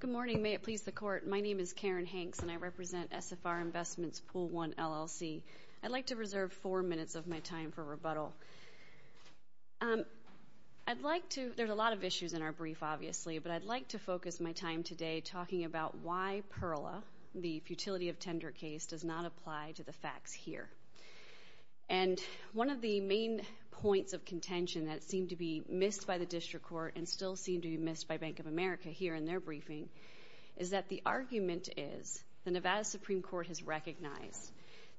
Good morning. May it please the Court, my name is Karen Hanks, and I represent SFR Investments Pool 1, LLC. I'd like to reserve four minutes of my time for rebuttal. There are a lot of issues in our brief, obviously, but I'd like to focus my time today talking about why PERLA, the futility of tender case, does not apply to the facts here. And one of the main points of contention that seemed to be missed by the District Court and still seemed to be missed by Bank of America here in their briefing is that the argument is the Nevada Supreme Court has recognized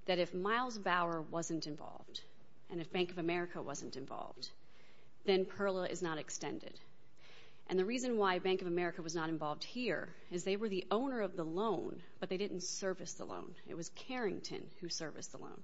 that if Miles Bauer wasn't involved and if Bank of America wasn't involved, then PERLA is not extended. And the reason why Bank of America was not involved here is they were the owner of the loan, but they didn't service the loan. It was Carrington who serviced the loan.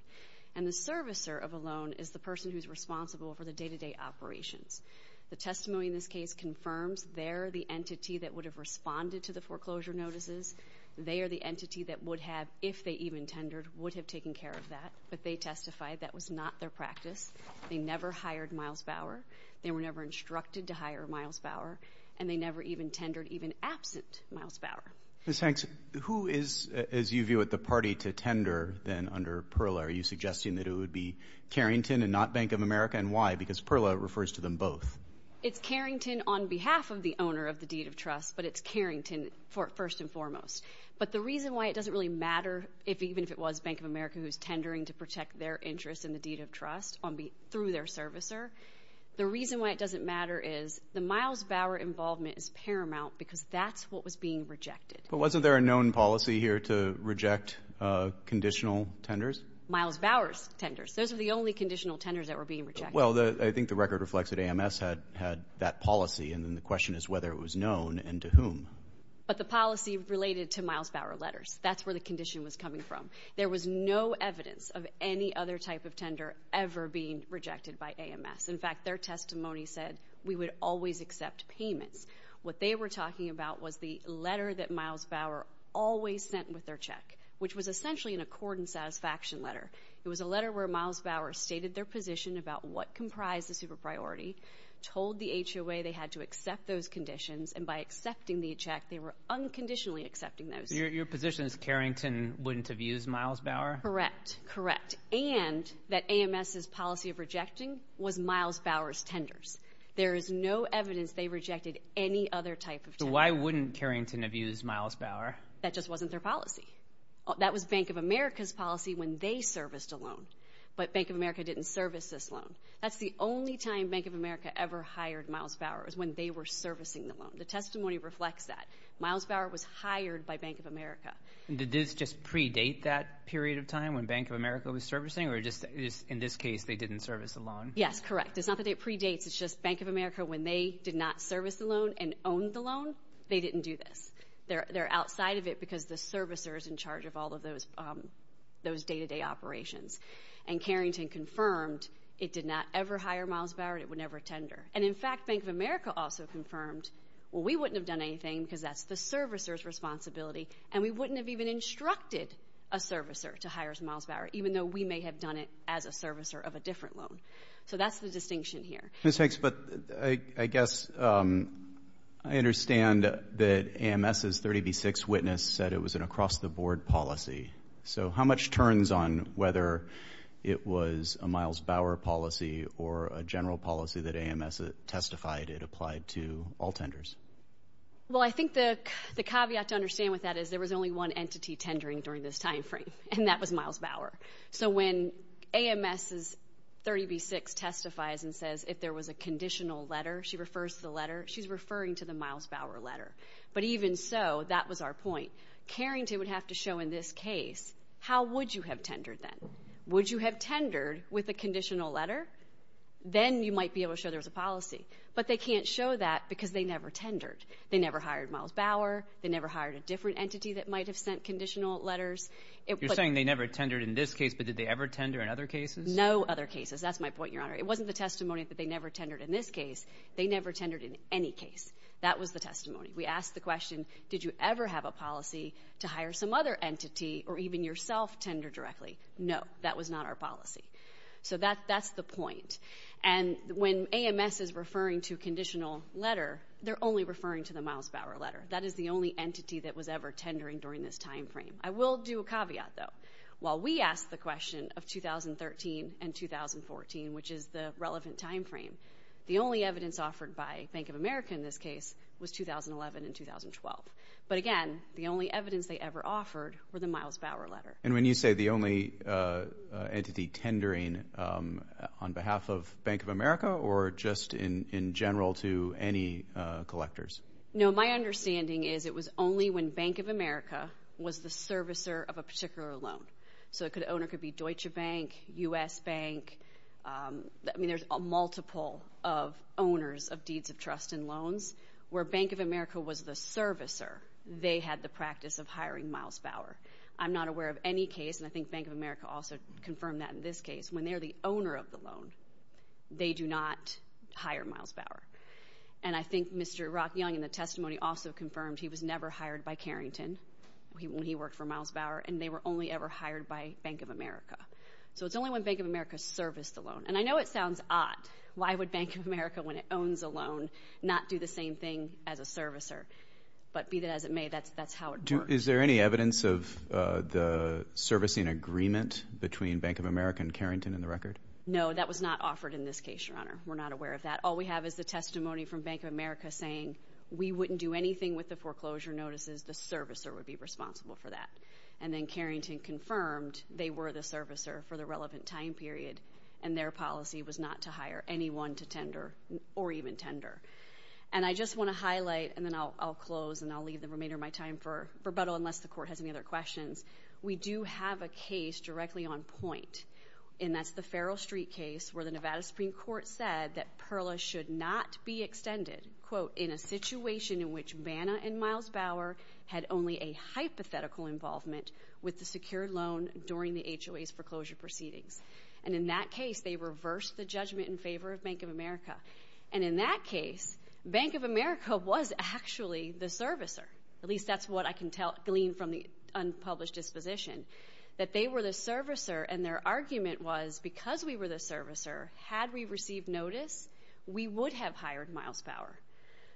And the servicer of a loan is the person who's responsible for the day-to-day operations. The testimony in this case confirms they're the entity that would have responded to the foreclosure notices. They are the entity that would have, if they even tendered, would have taken care of that. But they testified that was not their practice. They never hired Miles Bauer. They were never instructed to hire Miles Bauer. And they never even tendered, even absent Miles Bauer. Ms. Hanks, who is, as you view it, the party to tender then under PERLA? Are you suggesting that it would be Carrington and not Bank of America, and why? Because PERLA refers to them both. It's Carrington on behalf of the owner of the deed of trust, but it's Carrington first and foremost. But the reason why it doesn't really matter, even if it was Bank of America who's tendering to protect their interest in the deed of trust through their servicer, the reason why it doesn't matter is the Miles Bauer involvement is paramount because that's what was being rejected. But wasn't there a known policy here to reject conditional tenders? Miles Bauer's tenders. Those were the only conditional tenders that were being rejected. Well, I think the record reflects that AMS had that policy, and then the question is whether it was known and to whom. But the policy related to Miles Bauer letters. That's where the condition was coming from. There was no evidence of any other type of tender ever being rejected by AMS. In fact, their testimony said we would always accept payments. What they were talking about was the letter that Miles Bauer always sent with their check, which was essentially an accord and satisfaction letter. It was a letter where Miles Bauer stated their position about what comprised the super priority, told the HOA they had to accept those conditions, and by accepting the check, they were unconditionally accepting those. Your position is Carrington wouldn't have used Miles Bauer? Correct. Correct. And that AMS's policy of rejecting was Miles Bauer's tenders. There is no evidence they rejected any other type of tender. Why wouldn't Carrington have used Miles Bauer? That just wasn't their policy. That was Bank of America's policy when they serviced a loan. But Bank of America didn't service this loan. That's the only time Bank of America ever hired Miles Bauer, was when they were servicing the loan. The testimony reflects that. Miles Bauer was hired by Bank of America. Did this just predate that period of time when Bank of America was servicing, or just in this case, they didn't service the loan? Yes, correct. It's not that it predates. It's just Bank of America, when they did not service the loan and owned the loan, they didn't do this. They're outside of it because the servicer is in charge of all of those day-to-day operations. And Carrington confirmed it did not ever hire Miles Bauer, and it would never tender. And in fact, Bank of America also confirmed, well, we wouldn't have done anything because that's the servicer's responsibility, and we wouldn't have even instructed a servicer to hire Miles Bauer, even though we may have done it as a servicer of a different loan. So that's the distinction here. Ms. Hanks, but I guess I understand that AMS's 30B6 witness said it was an across-the-board policy. So how much turns on whether it was a Miles Bauer policy or a general policy that AMS testified it applied to all tenders? Well, I think the caveat to understand with that is there was only one entity tendering during this time frame, and that was Miles Bauer. So when AMS's 30B6 testifies and says if there was a conditional letter, she refers to the letter, she's referring to the Miles Bauer letter. But even so, that was our point. Carrington would have to show in this case, how would you have tendered then? Would you have tendered with a conditional letter? Then you might be able to show there was a policy. But they can't show that because they never tendered. They never hired Miles Bauer. They never hired a different entity that might have sent conditional letters. You're saying they never tendered in this case, but did they ever tender in other cases? No other cases. That's my point, Your Honor. It wasn't the testimony that they never tendered in this case. They never tendered in any case. That was the testimony. We asked the question, did you ever have a policy to hire some other entity or even yourself tender directly? No. That was not our policy. So that's the point. And when AMS is referring to conditional letter, they're only referring to the Miles Bauer letter. That is the only entity that was ever tendering during this time frame. I will do a caveat, though. While we asked the question of 2013 and 2014, which is the relevant time frame, the only evidence offered by Bank of America in this case was 2011 and 2012. But again, the only evidence they ever offered were the Miles Bauer letter. And when you say the only entity tendering on behalf of Bank of America or just in general to any collectors? No, my understanding is it was only when Bank of America was the servicer of a particular loan. So the owner could be Deutsche Bank, U.S. Bank. I mean, there's a multiple of owners of deeds of trust and loans. Where Bank of America was the servicer, they had the practice of hiring Miles Bauer. I'm not aware of any case, and I think Bank of America also confirmed that in this case, when they're the owner of the loan, they do not hire Miles Bauer. And I think Mr. Rock Young in the testimony also confirmed he was never hired by Carrington when he worked for Miles Bauer, and they were only ever hired by Bank of America. So it's only when Bank of America serviced the loan. And I know it sounds odd. Why would Bank of America, when it owns a loan, not do the same thing as a servicer? But be that as it may, that's how it works. Is there any evidence of the servicing agreement between Bank of America and Carrington in the record? No, that was not offered in this case, Your Honor. We're not aware of that. All we have is the testimony from Bank of America saying, we wouldn't do anything with the foreclosure notices. The servicer would be responsible for that. And then Carrington confirmed they were the servicer for the relevant time period, and their policy was not to hire anyone to tender, or even tender. And I just want to highlight, and then I'll close, and I'll leave the remainder of my time for rebuttal, unless the Court has any other questions. We do have a case directly on point, and that's the Farrell Street case, where the Nevada Supreme Court said that PIRLA should not be extended, quote, in a situation in which Banna and Miles Bauer had only a hypothetical involvement with the secured loan during the HOA's foreclosure proceedings. And in that case, they reversed the judgment in favor of Bank of America. And in that case, Bank of America was actually the servicer, at least that's what I can glean from the unpublished disposition, that they were the servicer and their argument was, because we were the servicer, had we received notice, we would have hired Miles Bauer.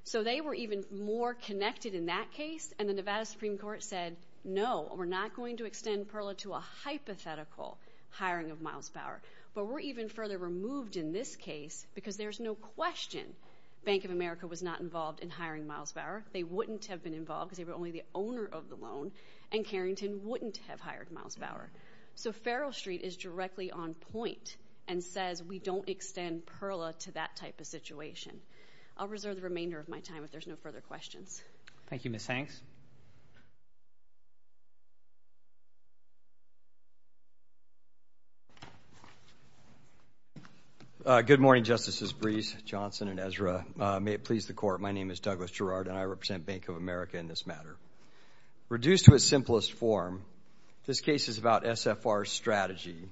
So they were even more connected in that case, and the Nevada Supreme Court said, no, we're not going to extend PIRLA to a hypothetical hiring of Miles Bauer. But we're even further removed in this case, because there's no question Bank of America was not involved in hiring Miles Bauer. They wouldn't have been involved, because they were only the owner of the loan, and Carrington wouldn't have hired Miles Bauer. So Farrell Street is directly on point and says we don't extend PIRLA to that type of situation. I'll reserve the remainder of my time if there's no further questions. Thank you, Ms. Hanks. Good morning, Justices Breese, Johnson, and Ezra. May it please the Court, my name is Douglas Gerrard, and I represent Bank of America in this matter. Reduced to its simplest form, this case is about SFR's strategy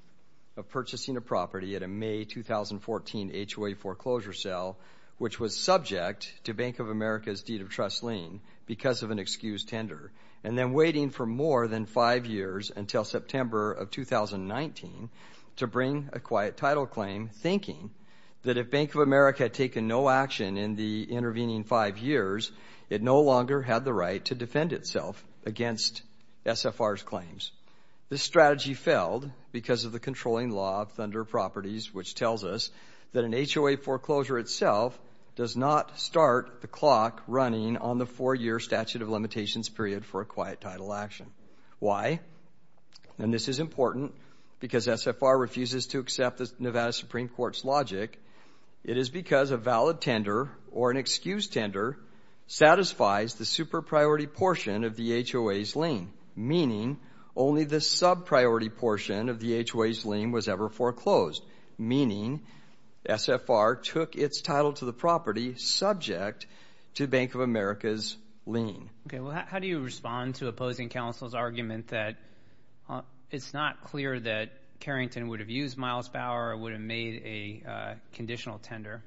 of purchasing a property at a May 2014 HOA foreclosure sale, which was subject to Bank of America's deed of trust lien because of an excused tender, and then waiting for more than five years until September of 2019 to bring a quiet title claim, thinking that if Bank of America had taken no action in the intervening five years, it no longer had the right to defend itself against SFR's claims. This strategy failed because of the controlling law of Thunder Properties, which tells us that an HOA foreclosure itself does not start the clock running on the four-year statute of limitations period for a quiet title action. Why? And this is important, because SFR refuses to accept the Nevada Supreme Court's logic. It is because a valid tender or an excused tender satisfies the super-priority portion of the HOA's lien, meaning only the sub-priority portion of the HOA's lien was ever foreclosed, meaning SFR took its title to the property subject to Bank of America's lien. Okay, well, how do you respond to opposing counsel's argument that it's not clear that it's a conditional tender?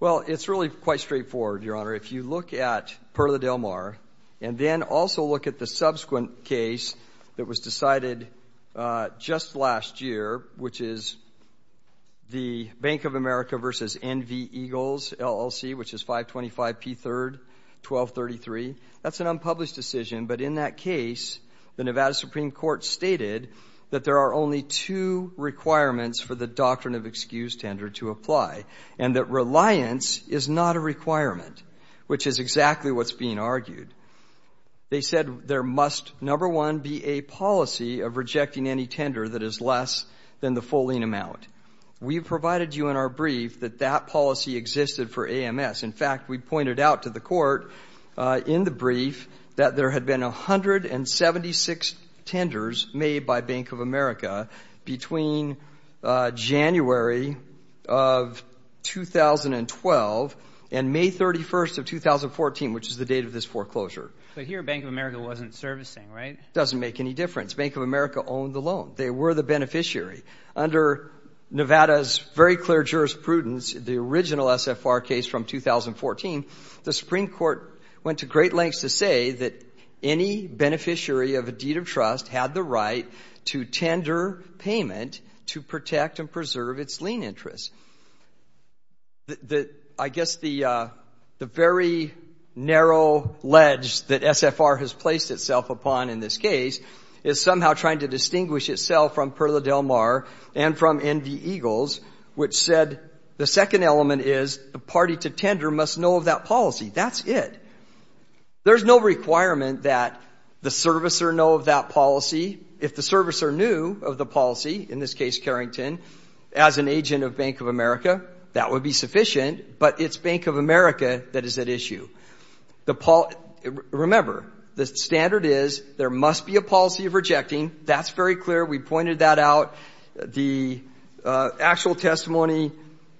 Well, it's really quite straightforward, Your Honor. If you look at Perla del Mar and then also look at the subsequent case that was decided just last year, which is the Bank of America v. N.V. Eagles LLC, which is 525 P. 3rd, 1233, that's an unpublished decision. But in that case, the Nevada Supreme Court stated that there are only two requirements for the doctrine of excused tender to apply and that reliance is not a requirement, which is exactly what's being argued. They said there must, number one, be a policy of rejecting any tender that is less than the full lien amount. We provided you in our brief that that policy existed for AMS. In fact, we pointed out to the Court in the brief that there had been 176 tenders made by Bank of America between January of 2012 and May 31st of 2014, which is the date of this foreclosure. But here, Bank of America wasn't servicing, right? Doesn't make any difference. Bank of America owned the loan. They were the beneficiary. Under Nevada's very clear jurisprudence, the original SFR case from 2014, the Supreme Court went to great lengths to say that any beneficiary of a deed of trust had the right to tender payment to protect and preserve its lien interest. I guess the very narrow ledge that SFR has placed itself upon in this case is somehow trying to distinguish itself from Perla del Mar and from Indy Eagles, which said the second element is the party to tender must know of that policy. That's it. There's no requirement that the servicer know of that policy. If the servicer knew of the policy, in this case Carrington, as an agent of Bank of America, that would be sufficient, but it's Bank of America that is at issue. Remember, the standard is there must be a policy of rejecting. That's very clear. We pointed that out. The actual testimony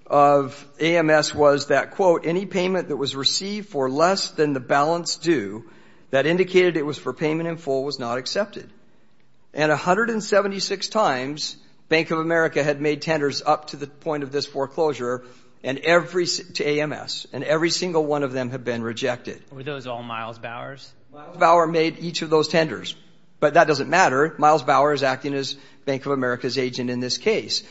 of AMS was that, quote, any payment that was received for less than the balance due that indicated it was for payment in full was not accepted. And 176 times, Bank of America had made tenders up to the point of this foreclosure to AMS, and every single one of them had been rejected. Were those all Miles Bowers? Miles Bower made each of those tenders, but that doesn't matter. Miles Bower is acting as Bank of America's agent in this case.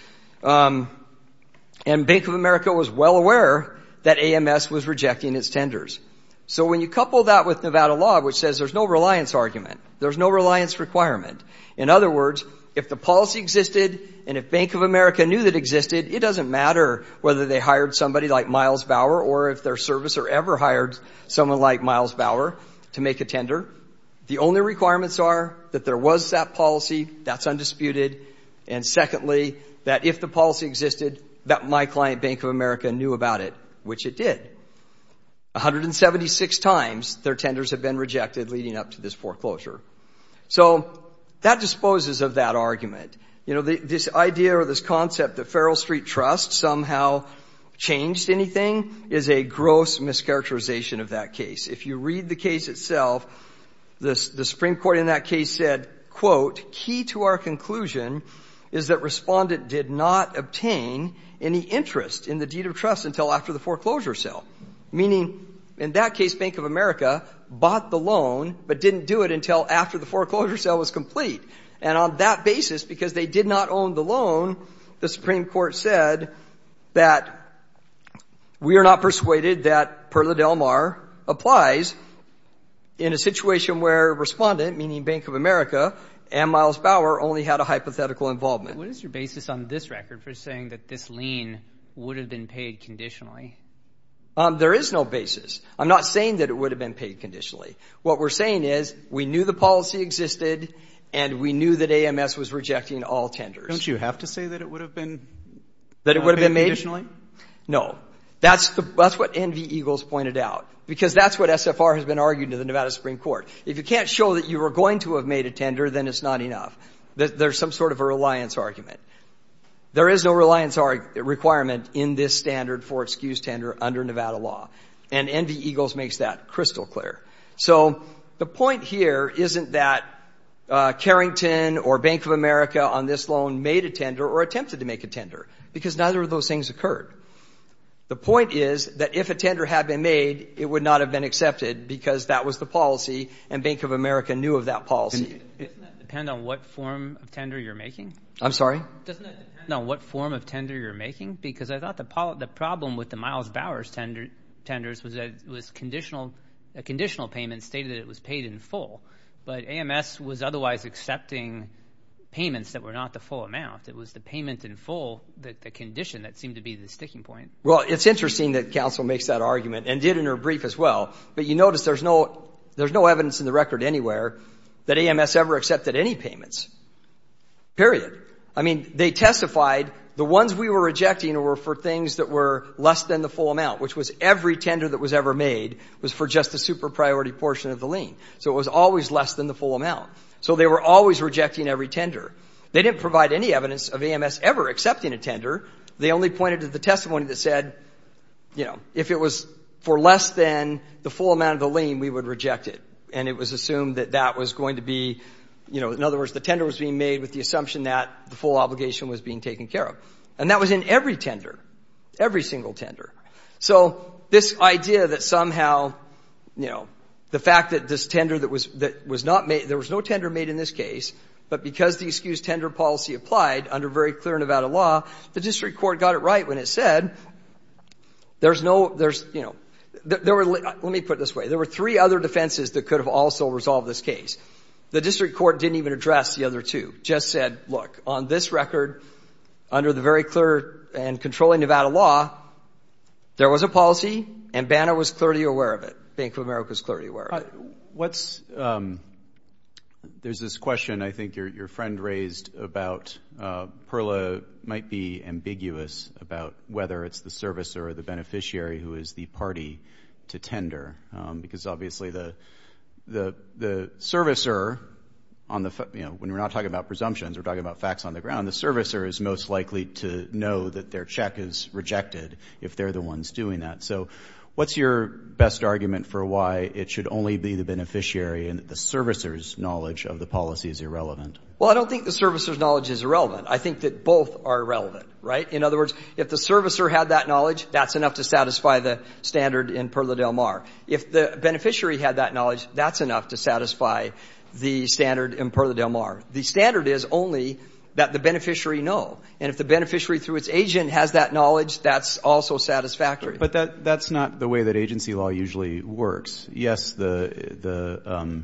And Bank of America was well aware that AMS was rejecting its tenders. So when you couple that with Nevada law, which says there's no reliance argument, there's no reliance requirement, in other words, if the policy existed and if Bank of America knew that existed, it doesn't matter whether they hired somebody like Miles Bower or if their servicer ever hired someone like Miles Bower to make a tender. The only requirements are that there was that policy, that's undisputed, and secondly, that if the policy existed, that my client, Bank of America, knew about it, which it did. 176 times, their tenders have been rejected leading up to this foreclosure. So that disposes of that argument. You know, this idea or this concept that Feral Street Trust somehow changed anything is a gross mischaracterization of that case. If you read the case itself, the Supreme Court in that case said, quote, key to our conclusion is that respondent did not obtain any interest in the deed of trust until after the foreclosure sale. Meaning, in that case, Bank of America bought the loan, but didn't do it until after the foreclosure sale was complete. And on that basis, because they did not own the loan, the Supreme Court said that we are not persuaded that, per the Del Mar, applies in a situation where respondent, meaning Bank of America, and Miles Bower only had a hypothetical involvement. What is your basis on this record for saying that this lien would have been paid conditionally? There is no basis. I'm not saying that it would have been paid conditionally. What we're saying is, we knew the policy existed, and we knew that AMS was rejecting all tenders. Don't you have to say that it would have been? That it would have been made? Paid conditionally? No. That's what Envy Eagles pointed out. Because that's what SFR has been arguing to the Nevada Supreme Court. If you can't show that you were going to have made a tender, then it's not enough. There's some sort of a reliance argument. There is no reliance requirement in this standard for excused tender under Nevada law. And Envy Eagles makes that crystal clear. So, the point here isn't that Carrington or Bank of America on this loan made a tender or attempted to make a tender, because neither of those things occurred. The point is that if a tender had been made, it would not have been accepted because that was the policy, and Bank of America knew of that policy. Doesn't that depend on what form of tender you're making? I'm sorry? Doesn't that depend on what form of tender you're making? Because I thought the problem with the Miles Bowers tenders was that a conditional payment stated that it was paid in full. But AMS was otherwise accepting payments that were not the full amount. It was the payment in full, the condition that seemed to be the sticking point. Well, it's interesting that counsel makes that argument and did in her brief as well. But you notice there's no evidence in the record anywhere that AMS ever accepted any payments, period. I mean, they testified the ones we were rejecting were for things that were less than the full amount, which was every tender that was ever made was for just the super priority portion of the lien. So it was always less than the full amount. So they were always rejecting every tender. They didn't provide any evidence of AMS ever accepting a tender. They only pointed to the testimony that said, if it was for less than the full amount of the lien, we would reject it. And it was assumed that that was going to be, in other words, the tender was being made with the assumption that the full obligation was being taken care of. And that was in every tender, every single tender. So this idea that somehow, you know, the fact that this tender that was not made, there was no tender made in this case, but because the excused tender policy applied under very clear Nevada law, the district court got it right when it said, there's no, there's, you know, there were, let me put it this way. There were three other defenses that could have also resolved this case. The district court didn't even address the other two. Just said, look, on this record, under the very clear and there was a policy and Banner was clearly aware of it. Bank of America was clearly aware of it. What's, there's this question I think your friend raised about Perla might be ambiguous about whether it's the servicer or the beneficiary who is the party to tender. Because obviously the, the, the servicer on the, you know, when we're not talking about presumptions, we're talking about facts on the ground. The servicer is most likely to know that their check is rejected if they're the ones doing that. So what's your best argument for why it should only be the beneficiary and that the servicer's knowledge of the policy is irrelevant? Well, I don't think the servicer's knowledge is irrelevant. I think that both are irrelevant, right? In other words, if the servicer had that knowledge, that's enough to satisfy the standard in Perla del Mar. If the beneficiary had that knowledge, that's enough to satisfy the standard in Perla del Mar. The standard is only that the beneficiary know. If the servicer had that knowledge, that's also satisfactory. But that, that's not the way that agency law usually works. Yes, the, the,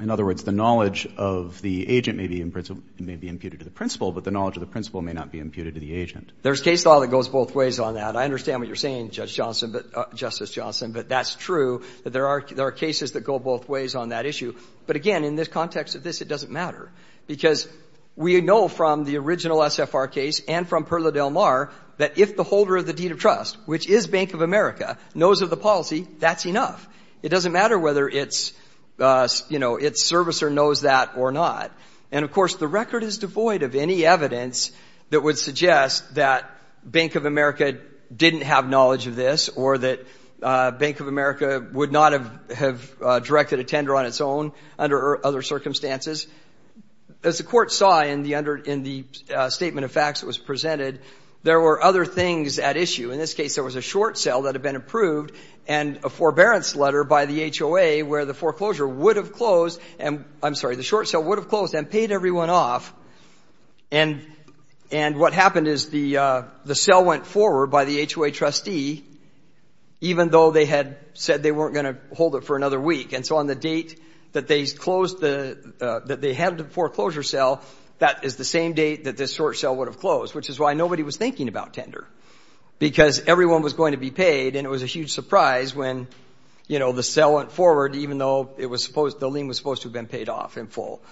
in other words, the knowledge of the agent may be imputed to the principal, but the knowledge of the principal may not be imputed to the agent. There's case law that goes both ways on that. I understand what you're saying, Judge Johnson, but, Justice Johnson, but that's true that there are, there are cases that go both ways on that issue. But again, in this context of this, it doesn't matter. Because we know from the original SFR case and from Perla del Mar that if the holder of the deed of trust, which is Bank of America, knows of the policy, that's enough. It doesn't matter whether it's, you know, its servicer knows that or not. And of course, the record is devoid of any evidence that would suggest that Bank of America didn't have knowledge of this or that Bank of America would not have, have directed a tender on its own under other circumstances. As the Court saw in the under, in the statement of facts that was presented, there were other things at issue. In this case, there was a short sale that had been approved and a forbearance letter by the HOA where the foreclosure would have closed and, I'm sorry, the short sale would have closed and paid everyone off. And, and what happened is the, the sale went forward by the HOA trustee, even though they had said they weren't going to hold it for another week. And so on the date that they closed the, that they had the foreclosure sale, that is the same date that this short sale would have closed. Which is why nobody was thinking about tender. Because everyone was going to be paid and it was a huge surprise when, you know, the sale went forward even though it was supposed, the lien was supposed to have been paid off in full.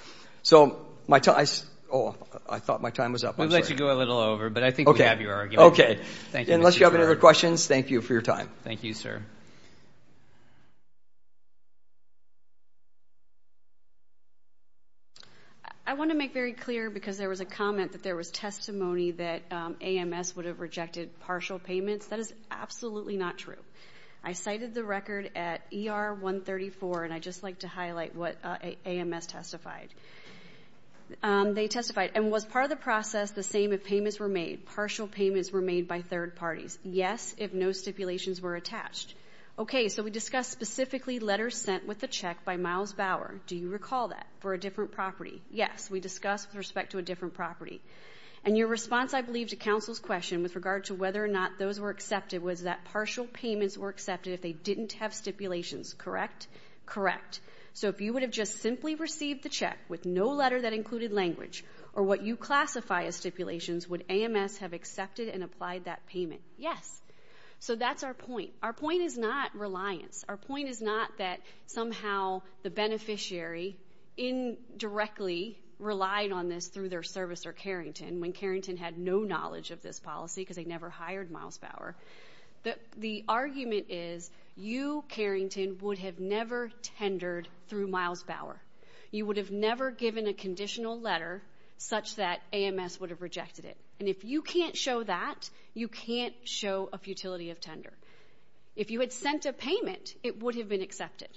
So my time, I, oh, I thought my time was up. I'm sorry. We'll let you go a little over, but I think we have your argument. Okay. Okay. Thank you, Mr. Chairman. Unless you have any other questions, thank you for your time. Thank you, sir. I want to make very clear because there was a comment that there was testimony that AMS would have rejected partial payments. That is absolutely not true. I cited the record at ER 134, and I'd just like to highlight what AMS testified. They testified, and was part of the process the same if payments were made, partial payments were made by third parties? Yes, if no stipulations were attached. Okay. So we discussed specifically letters sent with the check by Miles Bauer. Do you recall that? For a different property? Yes. We discussed with respect to a different property. And your response, I believe, to counsel's question with regard to whether or not those were accepted was that partial payments were accepted if they didn't have stipulations, correct? Correct. So if you would have just simply received the check with no letter that included language, or what you classify as stipulations, would AMS have accepted and applied that payment? Yes. So that's our point. Our point is not reliance. Our point is not that somehow the beneficiary indirectly relied on this through their service or Carrington, when Carrington had no knowledge of this policy because they never hired Miles Bauer. The argument is you, Carrington, would have never tendered through Miles Bauer. You would have never given a conditional letter such that AMS would have rejected it. And if you can't show that, you can't show a futility of tender. If you had sent a payment, it would have been accepted.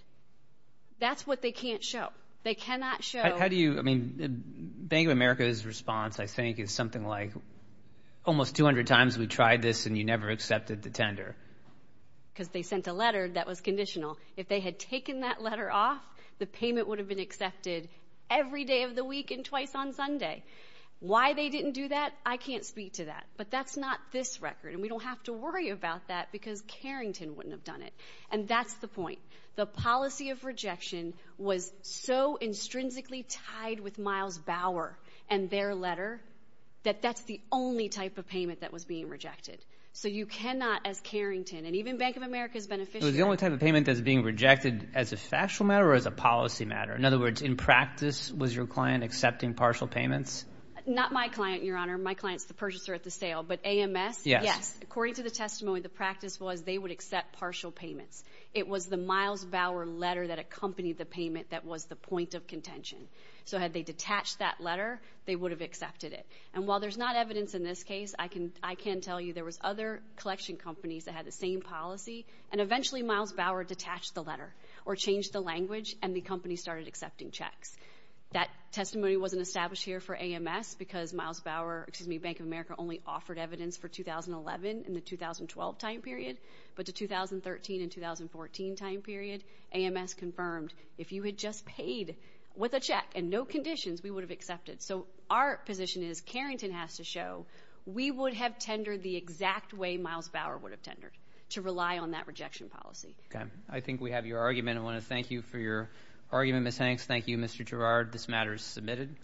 That's what they can't show. They cannot show. I mean, Bank of America's response, I think, is something like, almost 200 times we tried this and you never accepted the tender. Because they sent a letter that was conditional. If they had taken that letter off, the payment would have been accepted every day of the week and twice on Sunday. Why they didn't do that, I can't speak to that. But that's not this record. And we don't have to worry about that because Carrington wouldn't have done it. And that's the point. The policy of rejection was so intrinsically tied with Miles Bauer and their letter that that's the only type of payment that was being rejected. So you cannot, as Carrington, and even Bank of America's beneficiary. It was the only type of payment that's being rejected as a factual matter or as a policy matter? In other words, in practice, was your client accepting partial payments? Not my client, Your Honor. My client's the purchaser at the sale. But AMS? Yes. According to the testimony, the practice was they would accept partial payments. It was the Miles Bauer letter that accompanied the payment that was the point of contention. So had they detached that letter, they would have accepted it. And while there's not evidence in this case, I can tell you there was other collection companies that had the same policy, and eventually Miles Bauer detached the letter or changed the language, and the company started accepting checks. That testimony wasn't established here for AMS because Miles Bauer, excuse me, Bank of America only offered evidence for 2011 in the 2012 time period. But the 2013 and 2014 time period, AMS confirmed, if you had just paid with a check and no conditions, we would have accepted. So our position is, Carrington has to show, we would have tendered the exact way Miles Bauer would have tendered, to rely on that rejection policy. Okay. I think we have your argument. I want to thank you for your argument, Ms. Hanks. Thank you, Mr. Girard. This matter is submitted.